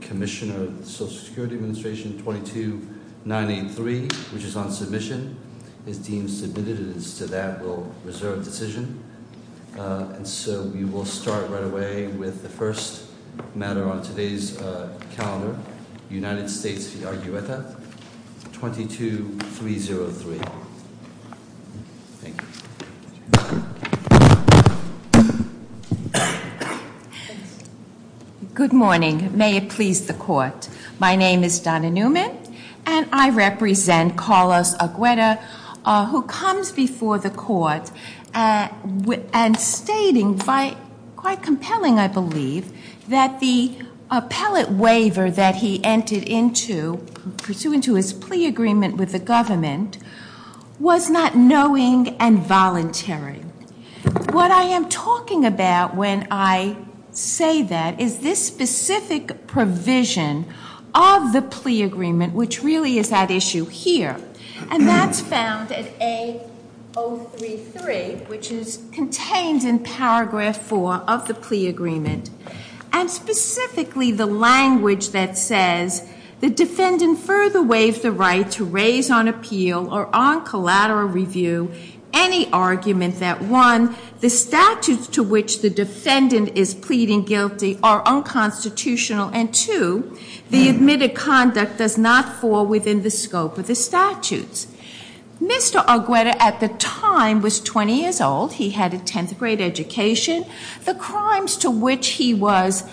22-303. Thank you. Good morning. May it please the court. My name is Donna Newman, and I represent Carlos Argueta, who comes before the court and stating, quite compelling I believe, that the appellate waiver that he entered into, pursuant to his plea agreement with the government, was not knowing and voluntary. What I am talking about when I say that is this specific provision of the plea agreement, which really is at issue here. And that's found at A033, which is contained in paragraph four of the plea agreement. And specifically, the language that says, the defendant further waives the right to raise on appeal or on collateral review any argument that, one, the statutes to which the defendant is pleading guilty are unconstitutional, and two, the admitted conduct does not fall within the scope of the statutes. Mr. Argueta, at the time, was 20 years old. He had a 10th grade education. The crimes to which he was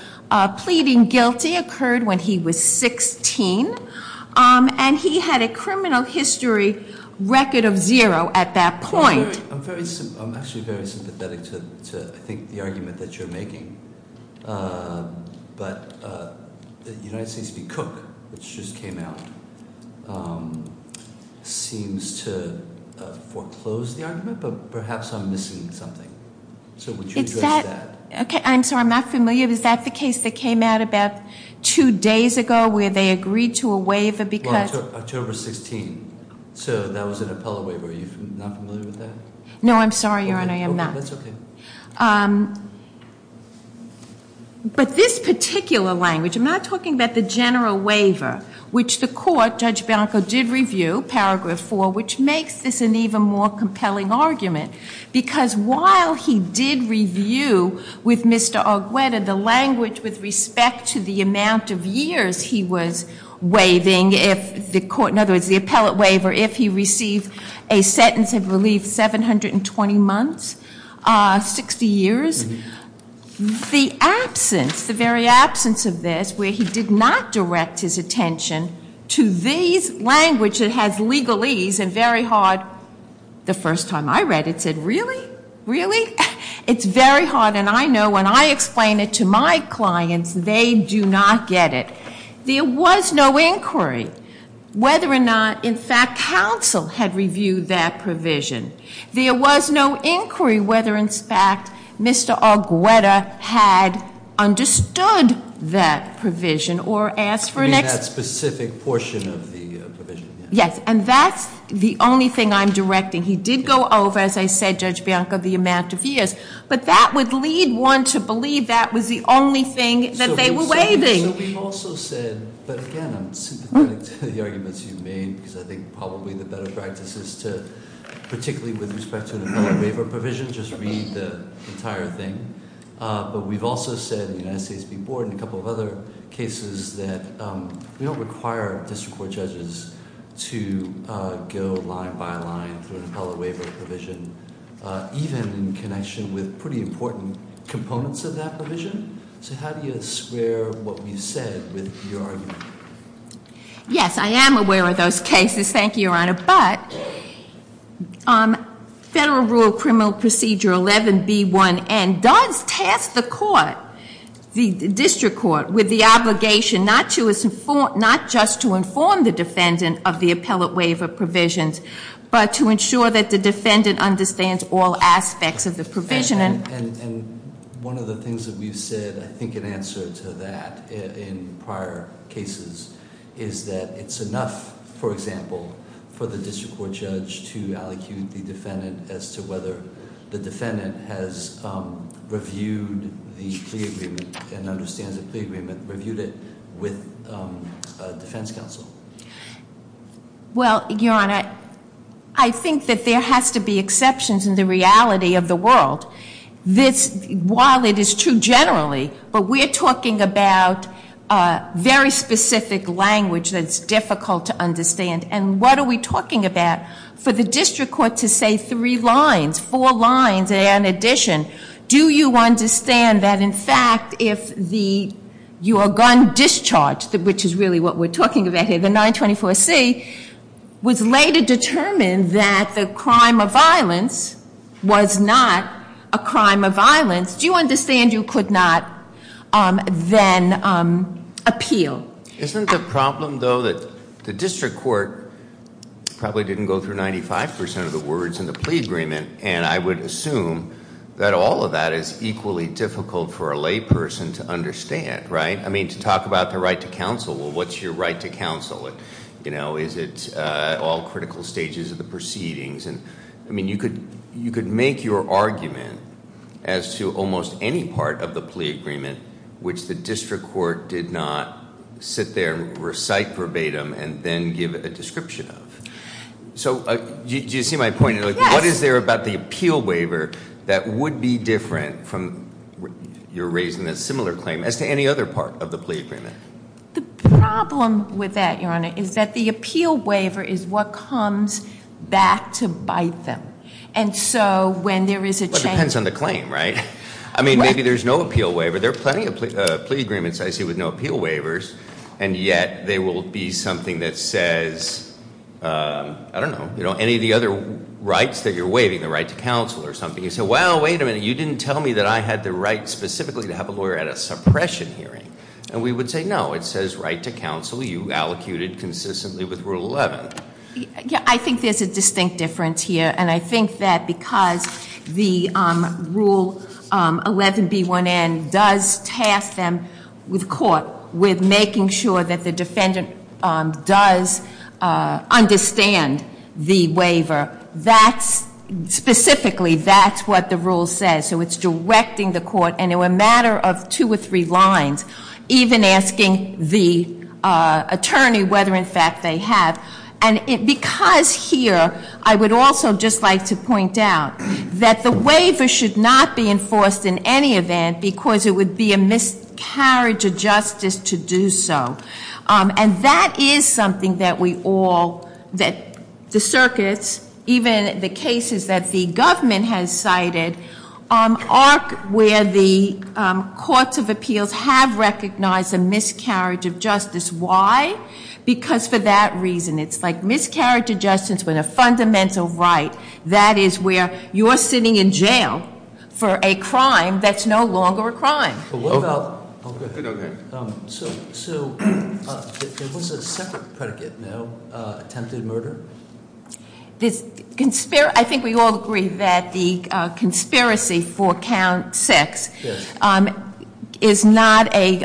pleading guilty occurred when he was 16. And he had a criminal history record of zero at that point. I'm actually very sympathetic to, I think, the argument that you're making. But the United States v. Cook, which just came out, seems to foreclose the argument, but perhaps I'm missing something. So would you address that? Okay, I'm sorry, I'm not familiar. Is that the case that came out about two days ago where they agreed to a waiver because... Well, October 16. So that was an appellate waiver. Are you not familiar with that? No, I'm sorry, Your Honor, I am not. Okay, that's okay. But this particular language, I'm not talking about the general waiver, which the makes this an even more compelling argument. Because while he did review with Mr. Argueta the language with respect to the amount of years he was waiving, if the court, in other words, the appellate waiver, if he received a sentence of, I believe, 720 months, 60 years, the absence, the very absence of this, where he did not direct his attention to this language which has legalese and very hard, the first time I read it, said, really? Really? It's very hard, and I know when I explain it to my clients, they do not get it. There was no inquiry whether or not, in fact, counsel had reviewed that provision. There was no inquiry whether, in fact, Mr. Argueta had understood that provision or asked for an answer to that specific portion of the provision. Yes, and that's the only thing I'm directing. He did go over, as I said, Judge Bianco, the amount of years. But that would lead one to believe that was the only thing that they were waiving. So we've also said, but again, I'm sympathetic to the arguments you've made, because I think probably the better practice is to, particularly with respect to the appellate waiver provision, just read the entire thing. But we've also said in the United States Supreme Court and a couple of other cases that we don't require district court judges to go line by line through an appellate waiver provision, even in connection with pretty important components of that provision. So how do you square what we've said with your argument? Yes, I am aware of those cases, thank you, Your Honor. But Federal Rule Criminal Procedure 11B1N does task the court, the district court, with the obligation not just to inform the defendant of the appellate waiver provisions, but to ensure that the defendant understands all aspects of the provision. And one of the things that we've said, I think in answer to that in prior cases, is that it's enough, for the district court judge to allocate the defendant as to whether the defendant has reviewed the plea agreement and understands the plea agreement, reviewed it with defense counsel. Well, Your Honor, I think that there has to be exceptions in the reality of the world. While it is true generally, but we're talking about very specific language that's difficult to understand. And what are we talking about? For the district court to say three lines, four lines in addition, do you understand that in fact if your gun discharge, which is really what we're talking about here, the 924C, was later determined that the crime of violence was not a crime of violence, do you understand you could not then appeal? Isn't the problem, though, that the district court probably didn't go through 95% of the words in the plea agreement, and I would assume that all of that is equally difficult for a lay person to understand, right? I mean, to talk about the right to counsel, well, what's your right to counsel? Is it all critical stages of the proceedings? I mean, you could make your argument as to almost any part of the plea agreement which the district court did not sit there and recite verbatim and then give a description of. So do you see my point? What is there about the appeal waiver that would be different from your raising a similar claim as to any other part of the plea agreement? The problem with that, Your Honor, is that the appeal waiver is what comes back to bite them. And so when there is a change... Well, it depends on the claim, right? I mean, maybe there's no appeal waiver. There are plenty of plea agreements I see with no appeal waivers, and yet there will be something that says, I don't know, any of the other rights that you're waiving, the right to counsel or something. You say, well, wait a minute, you didn't tell me that I had the right specifically to have a lawyer at a suppression hearing. And we would say, no, it says right to counsel. You allocated consistently with Rule 11. Yeah, I think there's a distinct difference here, and I think that because the Rule 11B1N does task them with court, with making sure that the defendant does understand the waiver, specifically that's what the Rule says. So it's directing the court, and it's a matter of two or three lines, even asking the attorney whether, in fact, they have. And because here, I would also just like to point out that the waiver should not be enforced in any event because it would be a miscarriage of justice to do so. And that is something that we all, that the circuits, even the cases that the government has cited, are where the courts of appeals have recognized a miscarriage of justice. Why? Because for that reason, it's like miscarriage of justice with a fundamental right. That is where you're sitting in jail for a crime that's no longer a crime. So there was a separate predicate now, attempted murder? I think we all agree that the conspiracy for count six is not a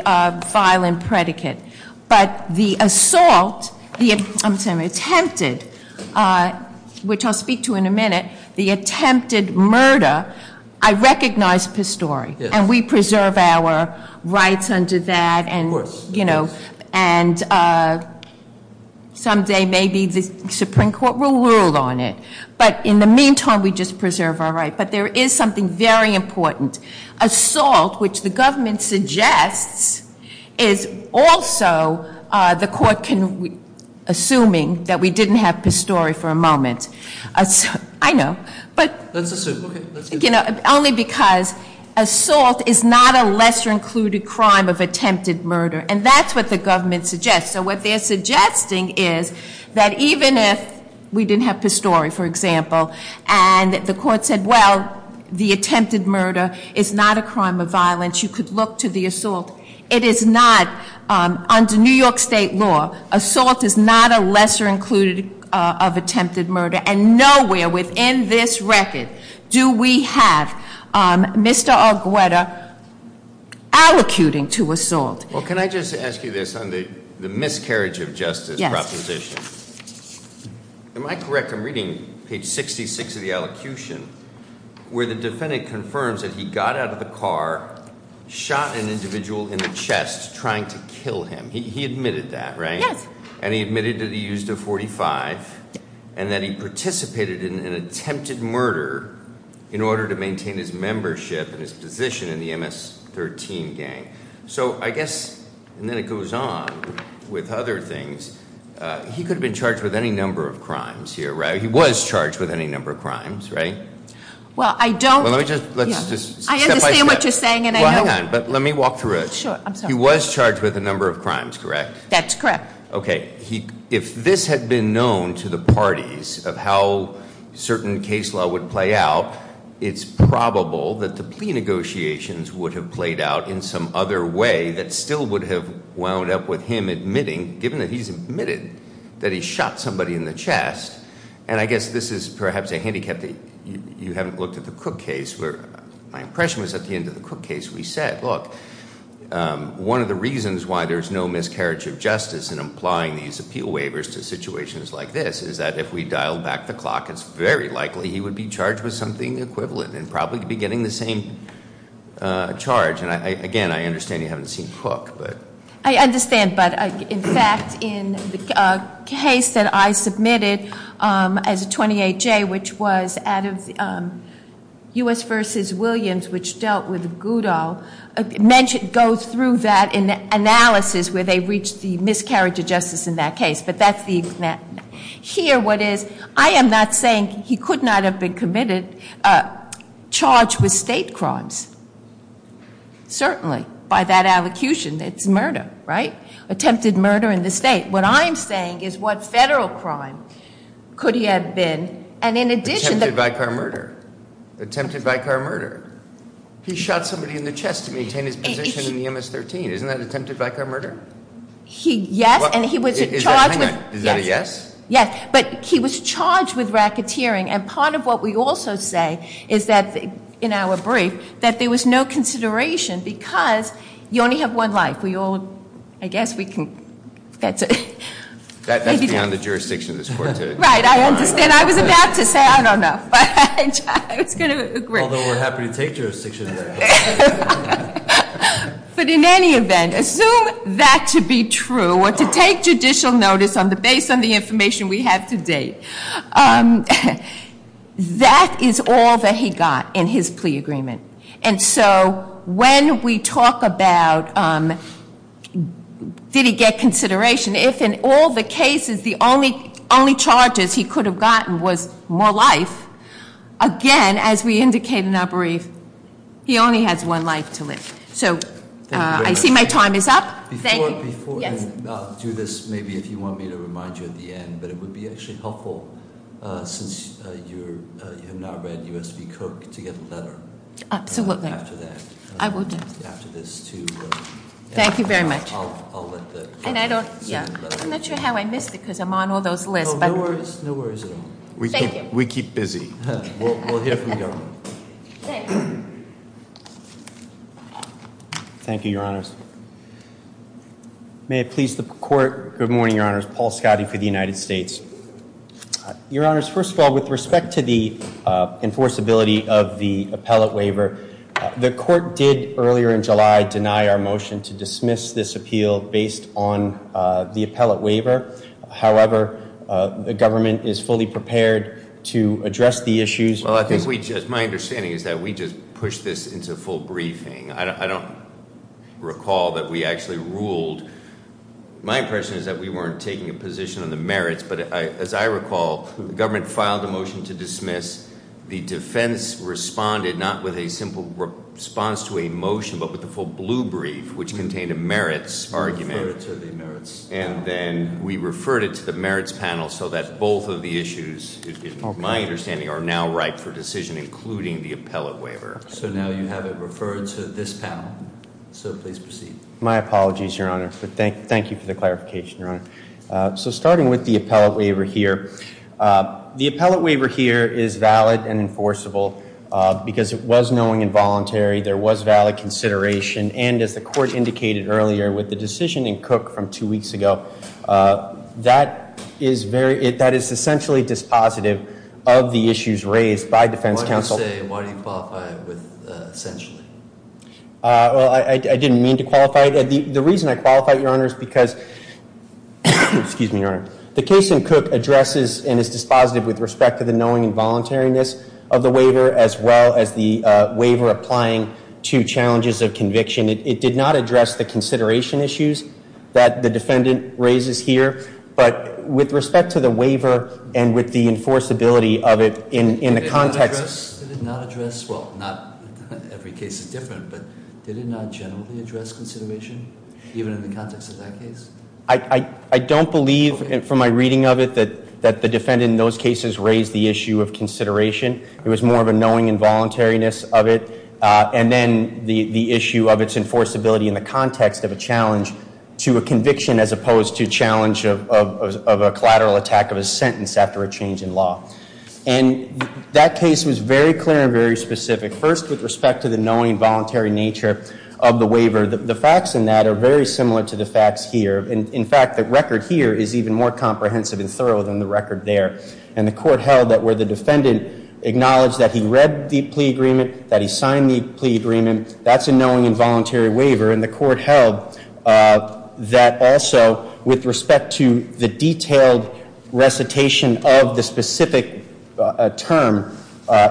violent predicate. But the assault, the attempted, which I'll speak to in a minute, the attempted murder, I recognize Pastore. And we preserve our rights under that. And someday maybe the Supreme Court will rule on it. But in the meantime, we just preserve our rights. But there is something very important. Assault, which the government suggests, is also the court assuming that we didn't have Pastore for a moment. I know. Only because assault is not a lesser included crime of attempted murder. And that's what the government suggests. So what they're suggesting is that even if we didn't have Pastore, for example, and the court said, well, the attempted murder is not a crime of violence, you could look to the assault. It is not, under New York State law, assault is not a lesser included of attempted murder. And nowhere within this record do we have Mr. Argueta allocuting to assault. Well, can I just ask you this on the miscarriage of justice proposition? Am I correct? I'm reading page 66 of the elocution where the defendant confirms that he got out of the car, shot an individual in the chest trying to kill him. He admitted that, right? Yes. And he admitted that he used a .45 and that he participated in an attempted murder in order to maintain his membership and his position in the MS-13 gang. So I guess, and then it goes on with other things, he could have been charged with any number of crimes here, right? He was charged with any number of crimes, right? Well, I don't- Well, let me just- I understand what you're saying and I know- Well, hang on, but let me walk through it. He was charged with a number of crimes, correct? That's correct. Okay. If this had been known to the parties of how certain case law would play out, it's probable that the plea negotiations would have played out in some other way that still would have wound up with him admitting, given that he's admitted that he shot somebody in the chest. And I guess this is perhaps a handicap that you haven't looked at the Cook case where my impression was at the end of the Cook case we said, look, one of the reasons why there's no miscarriage of justice in applying these appeal waivers to situations like this is that if we dial back the clock, it's very likely he would be charged with something equivalent and probably be getting the same charge. And again, I understand you haven't seen Cook, but- I understand, but in fact, in the case that I submitted as a 28-J, which was out of U.S. v. Williams, which dealt with Goudal, it goes through that analysis where they reached the miscarriage of justice in that case. But that's the- Here, what is- I am not saying he could not have been committed charged with state crimes, certainly, by that allocution. It's murder, right? Attempted murder in the state. What I'm saying is what federal crime could he have been and in addition- Attempted by car murder. Attempted by car murder. He shot somebody in the chest to maintain his position in the MS-13. Isn't that attempted by car murder? Yes, and he was charged with- Is that a yes? Yes, but he was charged with racketeering and part of what we also say is that in our brief, that there was no consideration because you only have one life. We all- I guess we can- That's beyond the jurisdiction of this court to- Right, I understand. I was about to say, I don't know, but I was going to agree. Although we're happy to take jurisdiction. But in any event, assume that to be true or to take judicial notice on the base on the information we have to date. That is all that he got in his plea agreement. And so when we talk about did he get consideration, if in all the cases the only charges he could have gotten was more life, again, as we indicate in our brief, he only has one life to live. So I see my time is up. Before, and I'll do this maybe if you want me to remind you at the end, but it would be actually helpful since you have not read U.S. v. Cook to get the letter. Absolutely. After that. I will do it. After this too. Thank you very much. And I don't- I'm not sure how I missed it because I'm on all those lists, but- No worries. No worries at all. We keep busy. We'll hear from the government. Thank you, your honors. May it please the court. Good morning, your honors. Paul Scotti for the United States. Your honors, first of all, with respect to the enforceability of the appellate waiver, the court did earlier in July deny our motion to dismiss this appeal based on the appellate waiver. However, the government is fully prepared to address the issues- My understanding is that we just pushed this into full briefing. I don't recall that we actually ruled. My impression is that we weren't taking a position on the merits, but as I recall, the government filed a motion to dismiss. The defense responded not with a simple response to a motion, but with a full blue brief, which contained a merits argument. And then we referred it to the merits panel so that both of the issues, my understanding, are now ripe for decision, including the appellate waiver. So now you have it referred to this panel. So please proceed. My apologies, your honor. Thank you for the clarification, your honor. So starting with the involuntary, there was valid consideration, and as the court indicated earlier with the decision in Cook from two weeks ago, that is essentially dispositive of the issues raised by defense counsel. Why do you say, why do you qualify it with essentially? I didn't mean to qualify it. The reason I qualified it, your honor, is because the case in Cook addresses and is dispositive with respect to the knowing and voluntariness of the waiver, as well as the waiver applying to challenges of conviction. It did not address the consideration issues that the defendant raises here. But with respect to the waiver and with the enforceability of it in the context... Did it not address, well, not every case is different, but did it not generally address consideration, even in the context of that case? I don't believe, from my reading of it, that the defendant in those cases raised the issue of consideration. It was more of a knowing and voluntariness of it. And then the issue of its enforceability in the context of a challenge to a conviction as opposed to a challenge of a collateral attack of a sentence after a change in law. And that case was very clear and very specific. First, with respect to the knowing and voluntary nature of the waiver, the facts in that are very similar to the facts here. In fact, the record here is even more comprehensive and thorough than the record there. And the court held that where the defendant acknowledged that he read the plea agreement, that he signed the plea agreement, that's a knowing and voluntary waiver. And the court held that also, with respect to the detailed recitation of the specific term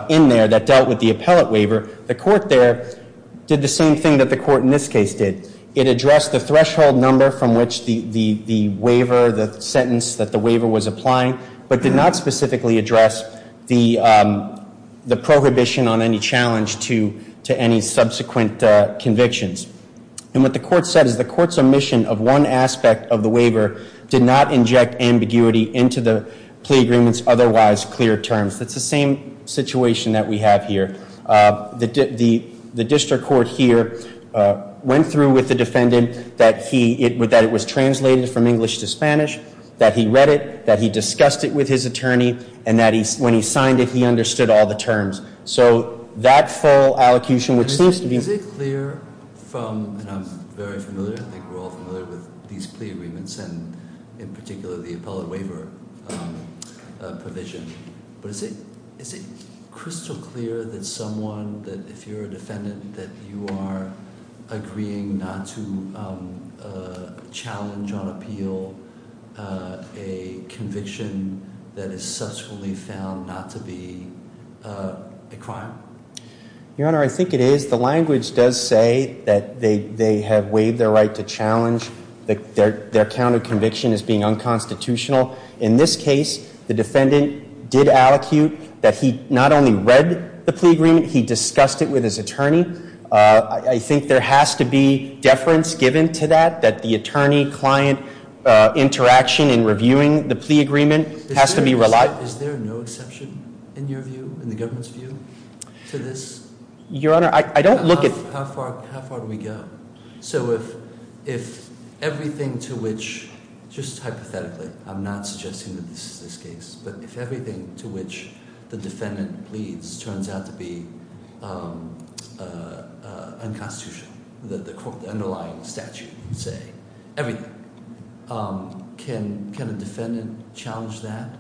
in there that dealt with the appellate waiver, the court there did the same thing that the court in this case did. It addressed the threshold number from which the waiver, the sentence that the waiver was applying, but did not specifically address the prohibition on any challenge to any subsequent convictions. And what the court said is the court's omission of one aspect of the waiver did not inject ambiguity into the plea agreement's otherwise clear terms. That's the same situation that we have here. The district court here went through with the defendant that it was translated from English to Spanish, that he read it, that he discussed it with his attorney, and that when he signed it, he understood all the terms. So that full allocation, which seems to be- Is it clear from, and I'm very familiar, I think we're all familiar with these plea agreements, and in particular the appellate waiver provision, but is it crystal clear that someone, that if you're a defendant, that you are agreeing not to be a crime? Your Honor, I think it is. The language does say that they have waived their right to challenge their count of conviction as being unconstitutional. In this case, the defendant did allocute that he not only read the plea agreement, he discussed it with his attorney. I think there has to be deference given to that, that the attorney-client interaction in reviewing the plea agreement has to be relied- Is there no exception, in your view, in the government's view, to this? Your Honor, I don't look at- How far do we go? So if everything to which, just hypothetically, I'm not suggesting that this is this case, but if everything to which the defendant pleads turns out to be unconstitutional, the underlying statute would say everything, can a defendant challenge that?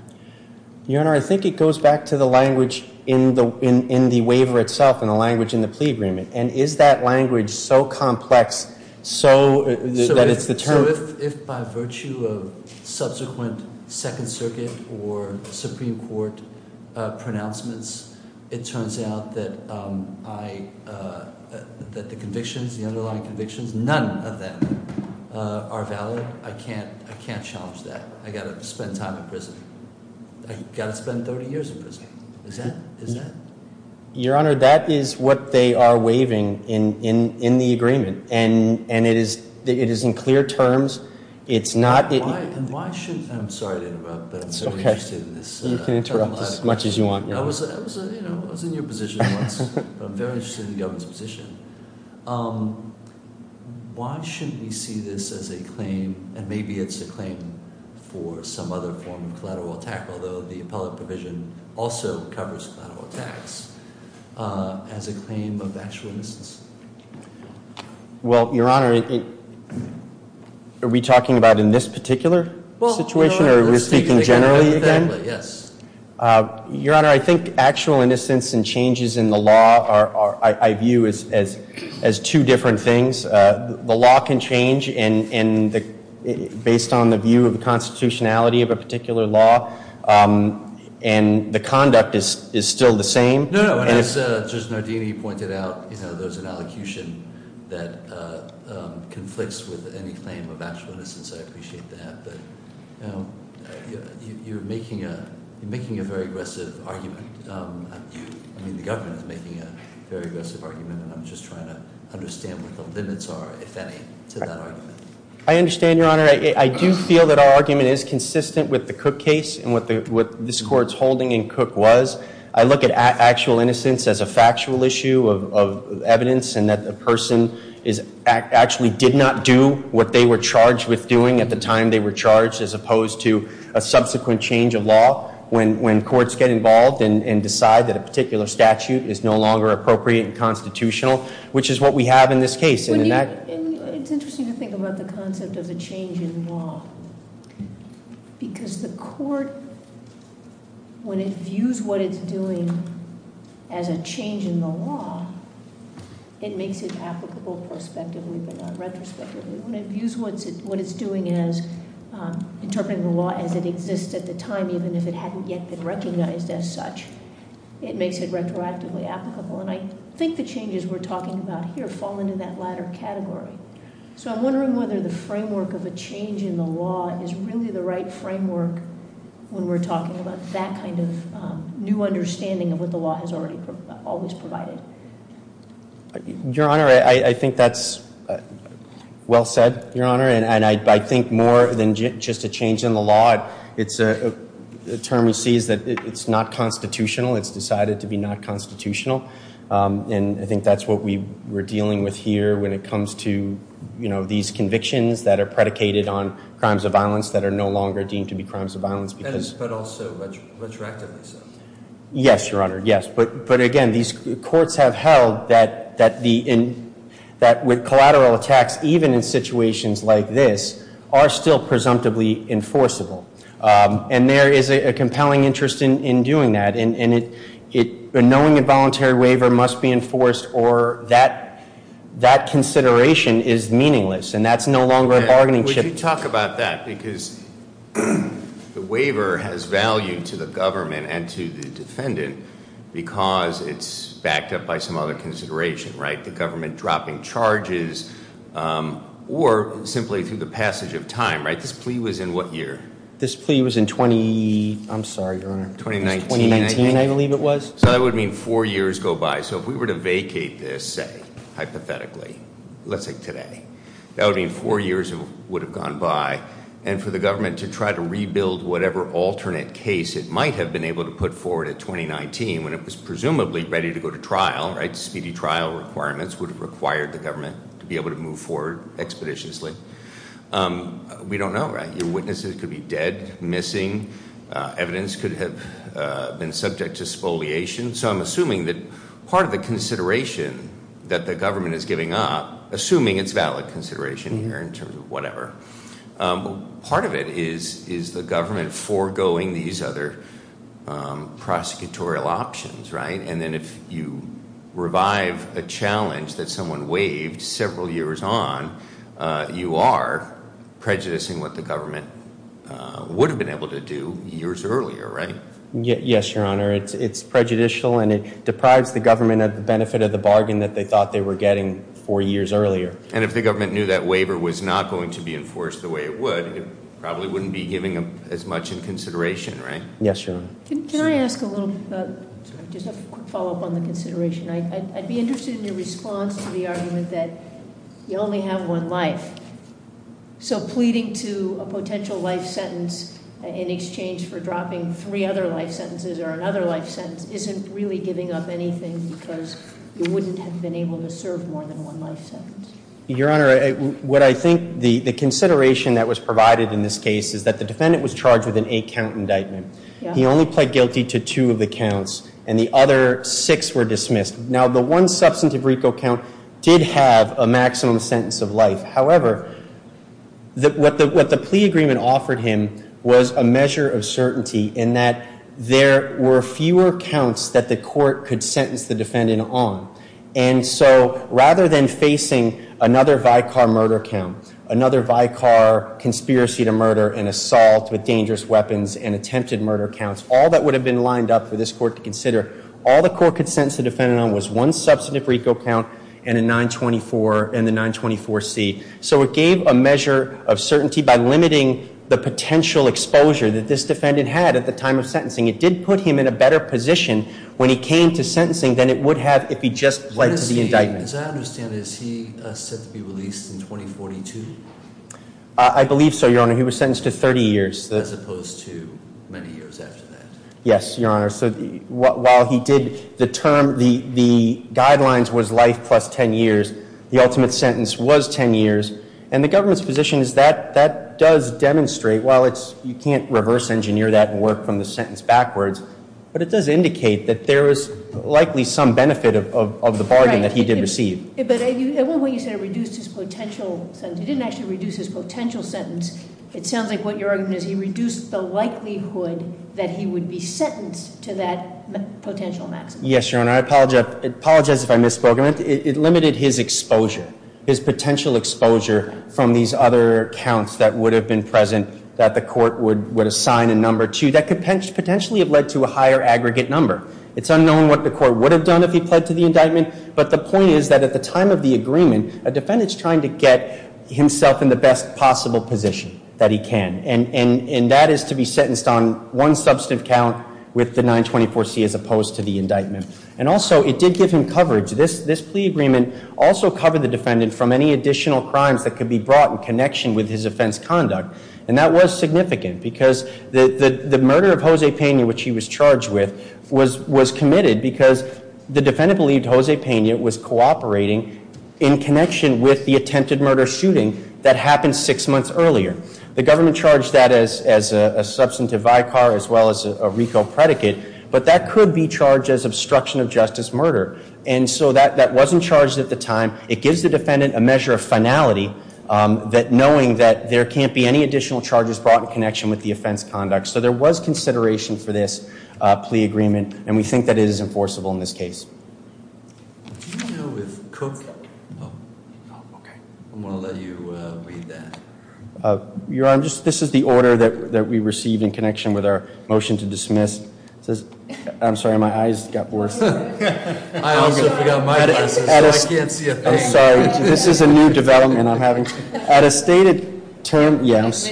Your Honor, I think it goes back to the language in the waiver itself and the language in the plea agreement. And is that language so complex that it's the term- So if by virtue of subsequent Second Circuit or it turns out that the convictions, the underlying convictions, none of them are valid, I can't challenge that. I've got to spend time in prison. I've got to spend 30 years in prison. Is that- Your Honor, that is what they are waiving in the agreement. And it is in clear terms, it's not- I'm sorry to interrupt, but I'm very interested in this. You can interrupt as much as you want. I was in your position once, but I'm very interested in the government's position. Why shouldn't we see this as a claim, and maybe it's a claim for some other form of collateral attack, although the appellate provision also covers collateral attacks, as a claim of actual innocence? Well, Your Honor, are we talking about in this particular situation, or are we speaking generally again? Your Honor, I think actual innocence and changes in the law I view as two different things. The law can change based on the view of the constitutionality of a particular law, and the conduct is still the same. No, no. As Judge Nardini pointed out, there's an allocution that conflicts with any claim of actual innocence. I appreciate that, but you're making a very aggressive argument. I mean, the government is making a very aggressive argument, and I'm just trying to understand what the limits are, if any, to that argument. I understand, Your Honor. I do feel that our argument is consistent with the Cook case and what this Court's holding in Cook was. I look at actual innocence as a factual issue of evidence, and that the person actually did not do what they were charged with doing at the time they were charged, as opposed to a subsequent change of law when courts get involved and decide that a particular statute is no longer appropriate and constitutional, which is what we have in this case. It's interesting to think about the concept of the change in law, because the Court when it views what it's doing as a change in the law, it makes it applicable prospectively but not retrospectively. When it views what it's doing as interpreting the law as it exists at the time, even if it hadn't yet been recognized as such, it makes it retroactively applicable. And I think the changes we're talking about here fall into that latter category. So I'm wondering whether the framework of a change in the law is really the right framework when we're talking about that kind of new understanding of what the law has always provided. Your Honor, I think that's well said, Your Honor. And I think more than just a change in the law, the term we see is that it's not constitutional. It's decided to be not constitutional. And I think that's what we're dealing with here when it comes to these convictions that are predicated on crimes of violence that are no longer deemed to be crimes of violence. And courts have held that with collateral attacks, even in situations like this, are still presumptively enforceable. And there is a compelling interest in doing that. And knowing a voluntary waiver must be enforced or that consideration is meaningless. And that's no longer a bargaining chip. Would you talk about that? Because the waiver has value to the government and to the defendant because it's backed up by some other consideration, right? The government dropping charges or simply through the passage of time, right? This plea was in what year? This plea was in 2019, I believe it was. So that would mean four years go by. So if we were to vacate this say, hypothetically, let's say today, that would mean four years would have gone by. And for the government to try to rebuild whatever alternate case it might have been able to put forward in 2019 when it was presumably ready to go to trial, right? Speedy trial requirements would have required the government to be able to move forward expeditiously. We don't know, right? Your witnesses could be dead, missing. Evidence could have been subject to spoliation. So I'm assuming that part of the consideration that the government is giving up, assuming it's valid consideration here in terms of whatever, part of it is the government foregoing these other prosecutorial options, right? And then if you revive a challenge that someone waived several years on, you are prejudicing what the government would have been able to do years earlier, right? Yes, Your Honor. It's prejudicial and it deprives the government of the benefit of the bargain that they thought they were getting four years earlier. And if the government knew that waiver was not going to be enforced the way it would, it probably wouldn't be giving as much in consideration, right? Yes, Your Honor. Can I ask a little question? Just a quick follow-up on the consideration. I'd be interested in your response to the argument that you only have one life. So pleading to a potential life sentence in exchange for dropping three other life sentences or another life sentence isn't really giving up anything because you wouldn't have been able to serve more than one life sentence. Your Honor, what I think the consideration that was provided in this case is that the defendant was charged with an eight count indictment. He only pled guilty to two of the counts and the other six were dismissed. Now the one substantive RICO count did have a maximum sentence of life. However, what the plea agreement offered him was a measure of certainty in that there were fewer counts that the court could sentence the defendant on. And so rather than facing another Vicar murder count, another Vicar conspiracy to murder and assault with dangerous weapons and attempted murder counts, all that would have been lined up for this court to consider, all the court could sentence the defendant on was one substantive RICO count and a 924 and the 924C. So it gave a measure of certainty by limiting the potential exposure that this defendant had at the time of sentencing. It did put him in a better position when he came to sentencing than it would have if he just pled to the indictment. As I understand it, is he set to be released in 2042? I believe so, Your Honor. He was sentenced to 30 years. As opposed to many years after that. Yes, Your Honor. So while he did the term, the guidelines was life plus 10 years, the ultimate sentence was 10 years. And the government's position is that that does demonstrate, while you can't reverse engineer that and work from the sentence backwards, but it does indicate that there is likely some benefit of the bargain that he did receive. But at one point you said it reduced his potential sentence. It didn't actually reduce his potential sentence. It sounds like what your argument is, he reduced the likelihood that he would be sentenced to that from these other counts that would have been present that the court would assign a number to that could potentially have led to a higher aggregate number. It's unknown what the court would have done if he pled to the indictment, but the point is that at the time of the agreement, a defendant's trying to get himself in the best possible position that he can. And that is to be sentenced on one substantive count with the 924C as opposed to the indictment. And also it did give him coverage. This plea agreement also covered the defendant from any additional crimes that could be brought in connection with his offense conduct. And that was significant because the murder of Jose Peña, which he was charged with, was committed because the defendant believed Jose Peña was cooperating in connection with the attempted murder shooting that happened six months earlier. The government charged that as a substantive vicar as well as a RICO predicate, but that could be charged as obstruction of justice murder. And so that wasn't charged at the time. It gives the defendant a measure of finality that knowing that there can't be any additional charges brought in connection with the offense conduct. So there was consideration for this plea agreement and we think that it is enforceable in this case. I'm going to let you read that. Your Honor, this is the order that we received in connection with our motion to dismiss. I'm sorry, my eyes got worse. I also forgot my glasses so I can't see a thing. I'm sorry. This is a new development I'm having. At a stated term, yes.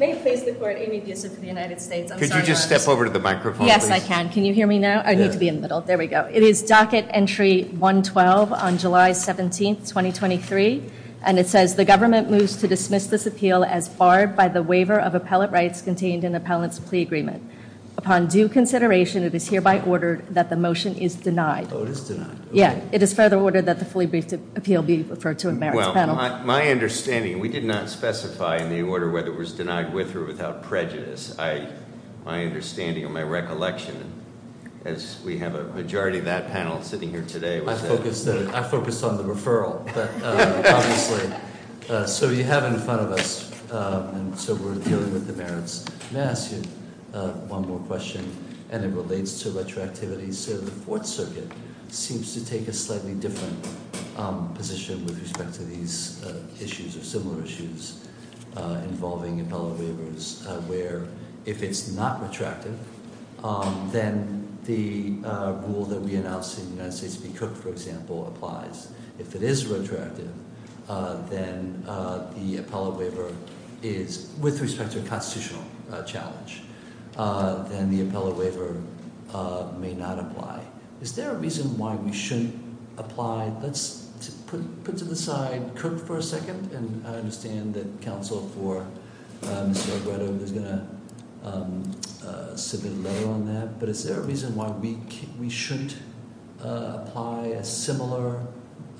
May it please the Court, Amy Bissett for the United States. Could you just step over to the microphone? Yes, I can. Can you hear me now? I need to be in the middle. There we go. It is docket entry 112 on July 17, 2023. And it says the government moves to dismiss this appeal as barred by the waiver of appellate rights contained in the appellant's plea agreement. Upon due consideration, it is hereby ordered that the motion is denied. It is denied. The appeal be referred to a merits panel. My understanding, we did not specify in the order whether it was denied with or without prejudice. My understanding and my recollection, as we have a majority of that panel sitting here today. I focused on the referral. So you have in front of us, so we're dealing with the merits. May I ask you one more question? And it relates to retroactivity. So the Fourth Circuit seems to take a slightly different position with respect to these issues or similar issues involving appellate waivers where if it's not retracted, then the rule that we announced in the United States to be cooked, for example, applies. If it is retracted, then the waiver may not apply. Is there a reason why we shouldn't apply? Let's put to the side Kirk for a second. And I understand that counsel for is going to submit a letter on that. But is there a reason why we we shouldn't apply a similar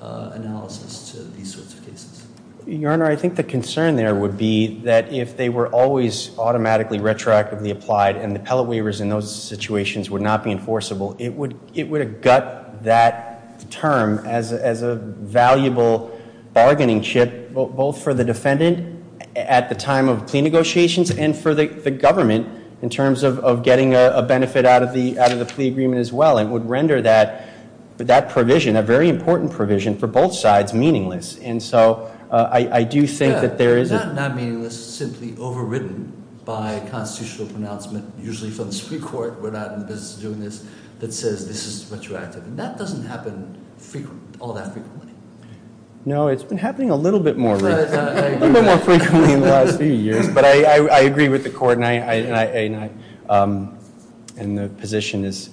analysis to these sorts of cases? Your Honor, I think the concern there would be that if they were always automatically retroactively applied and the appellate waivers in those situations would not be enforceable, it would gut that term as a valuable bargaining chip both for the defendant at the time of plea negotiations and for the government in terms of getting a benefit out of the plea agreement as well. It would render that provision, a very important provision, for both sides meaningless. And so I do think that there is a... It's not not meaningless. It's simply overridden by constitutional pronouncement, usually from the Supreme Court. We're not in the business of doing this that says this is retroactive. And that doesn't happen all that frequently. No, it's been happening a little bit more frequently in the last few years. But I agree with the Court. And the position is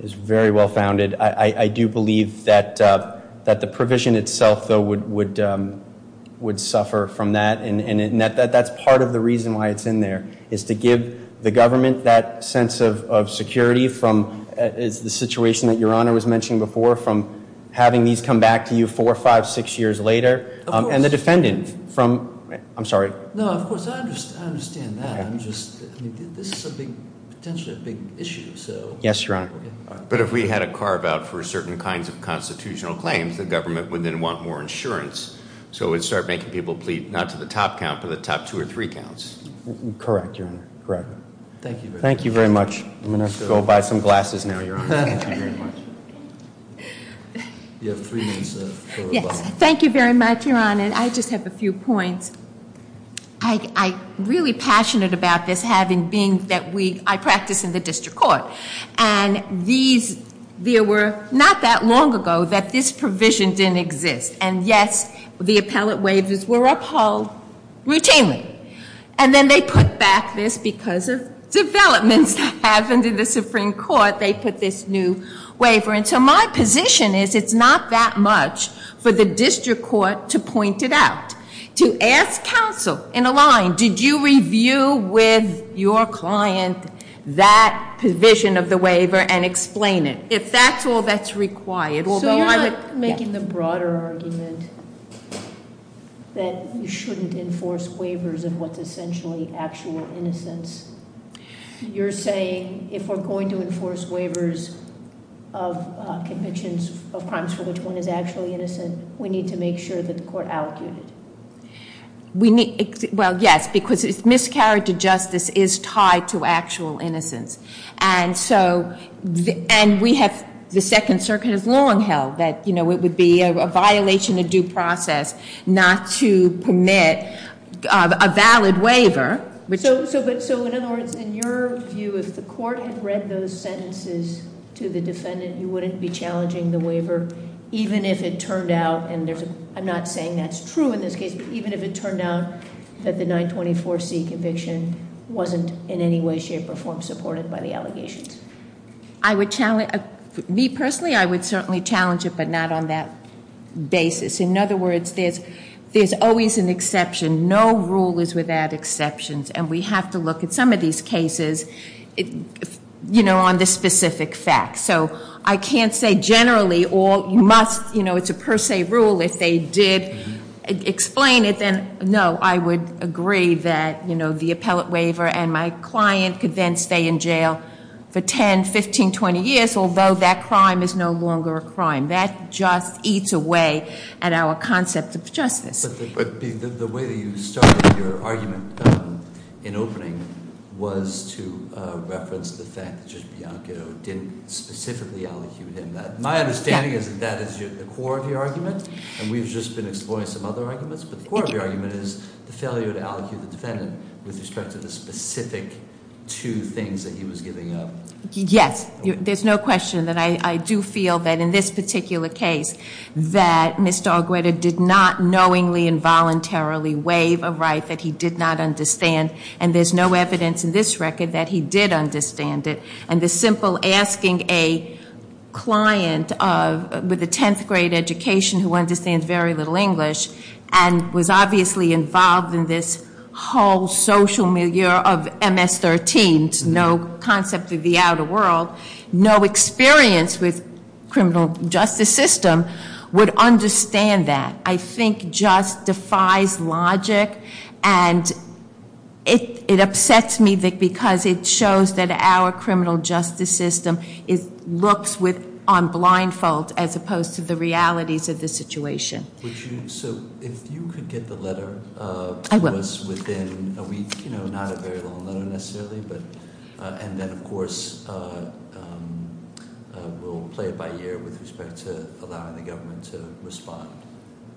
very well founded. I do believe that the provision itself, though, would suffer from that. And that's part of the reason why it's in there, is to give the government that sense of security from the situation that Your Honor was mentioning before, from having these come back to you four, five, six years later. And the defendant from... I'm sorry. No, of course. I understand that. This is potentially a big issue. Yes, Your Honor. But if we had a carve-out for certain kinds of constitutional claims, the government would then want more insurance. So it would start making people plea not to the top count, but the top two or three counts. Correct, Your Honor. Thank you. Thank you very much. I'm going to go buy some glasses now, Your Honor. Thank you very much. You have three minutes. Thank you very much, Your Honor. I just have a few points. I'm really passionate about this, having being that I practice in the District Court. And these, there were not that long ago that this provision didn't exist. And yes, the appellate waivers were upheld routinely. And then they put back this because of developments that happened in the Supreme Court, they put this new waiver. And so my position is it's not that much for the District Court to point it out. To ask counsel in a line, did you review with your client that provision of the waiver and explain it? If that's all that's essentially actual innocence. You're saying if we're going to enforce waivers of convictions of crimes for which one is actually innocent, we need to make sure that the court allocutes it? Well, yes, because miscarriage of justice is tied to actual innocence. And so, and we have, the Second Circuit has long held that it would be a violation of due process not to permit a valid waiver. So in other words, in your view, if the court had read those sentences to the defendant, you wouldn't be challenging the waiver even if it turned out, and I'm not saying that's true in this case, but even if it turned out that the 924C conviction wasn't in any way, shape, or form supported by the allegations? Me personally, I would certainly challenge it, but not on that basis. In other words, there's always an exception. No rule is without exceptions. And we have to look at some of these cases on the specific facts. So I can't say generally, or you must, it's a per se rule, if they did explain it, then no, I would agree that the appellate waiver and my client could then stay in jail for 10, 15, 20 years, although that crime is no longer a crime. That just eats away at our concept of justice. But the way that you started your argument in opening was to reference the fact that Judge Bianchino didn't specifically allecute him that. My understanding is that that is the core of your argument, and we've just been exploring some other arguments, but the core of your argument is the failure to allecute the defendant with respect to the specific two things that he was giving up. Yes, there's no question that I do feel that in this particular case that Mr. Algreda did not knowingly and voluntarily waive a right that he did not have a client with a 10th grade education who understands very little English and was obviously involved in this whole social milieu of MS-13s, no concept of the outer world, no experience with the criminal justice system, would understand that. I think it just defies logic and it upsets me because it shows that our criminal justice system looks on blindfold as opposed to the realities of the situation. If you could get the letter to us within a week, not a very long letter necessarily, and then of course we'll play it by ear with respect to how we want the government to respond,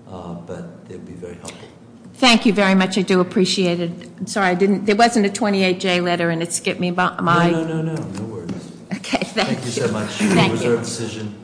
but it would be very helpful. Thank you very much. I do appreciate it. I'm sorry, there wasn't a 28-J letter and it skipped me by- No, no, no, no. No worries. Thank you so much. It was our decision.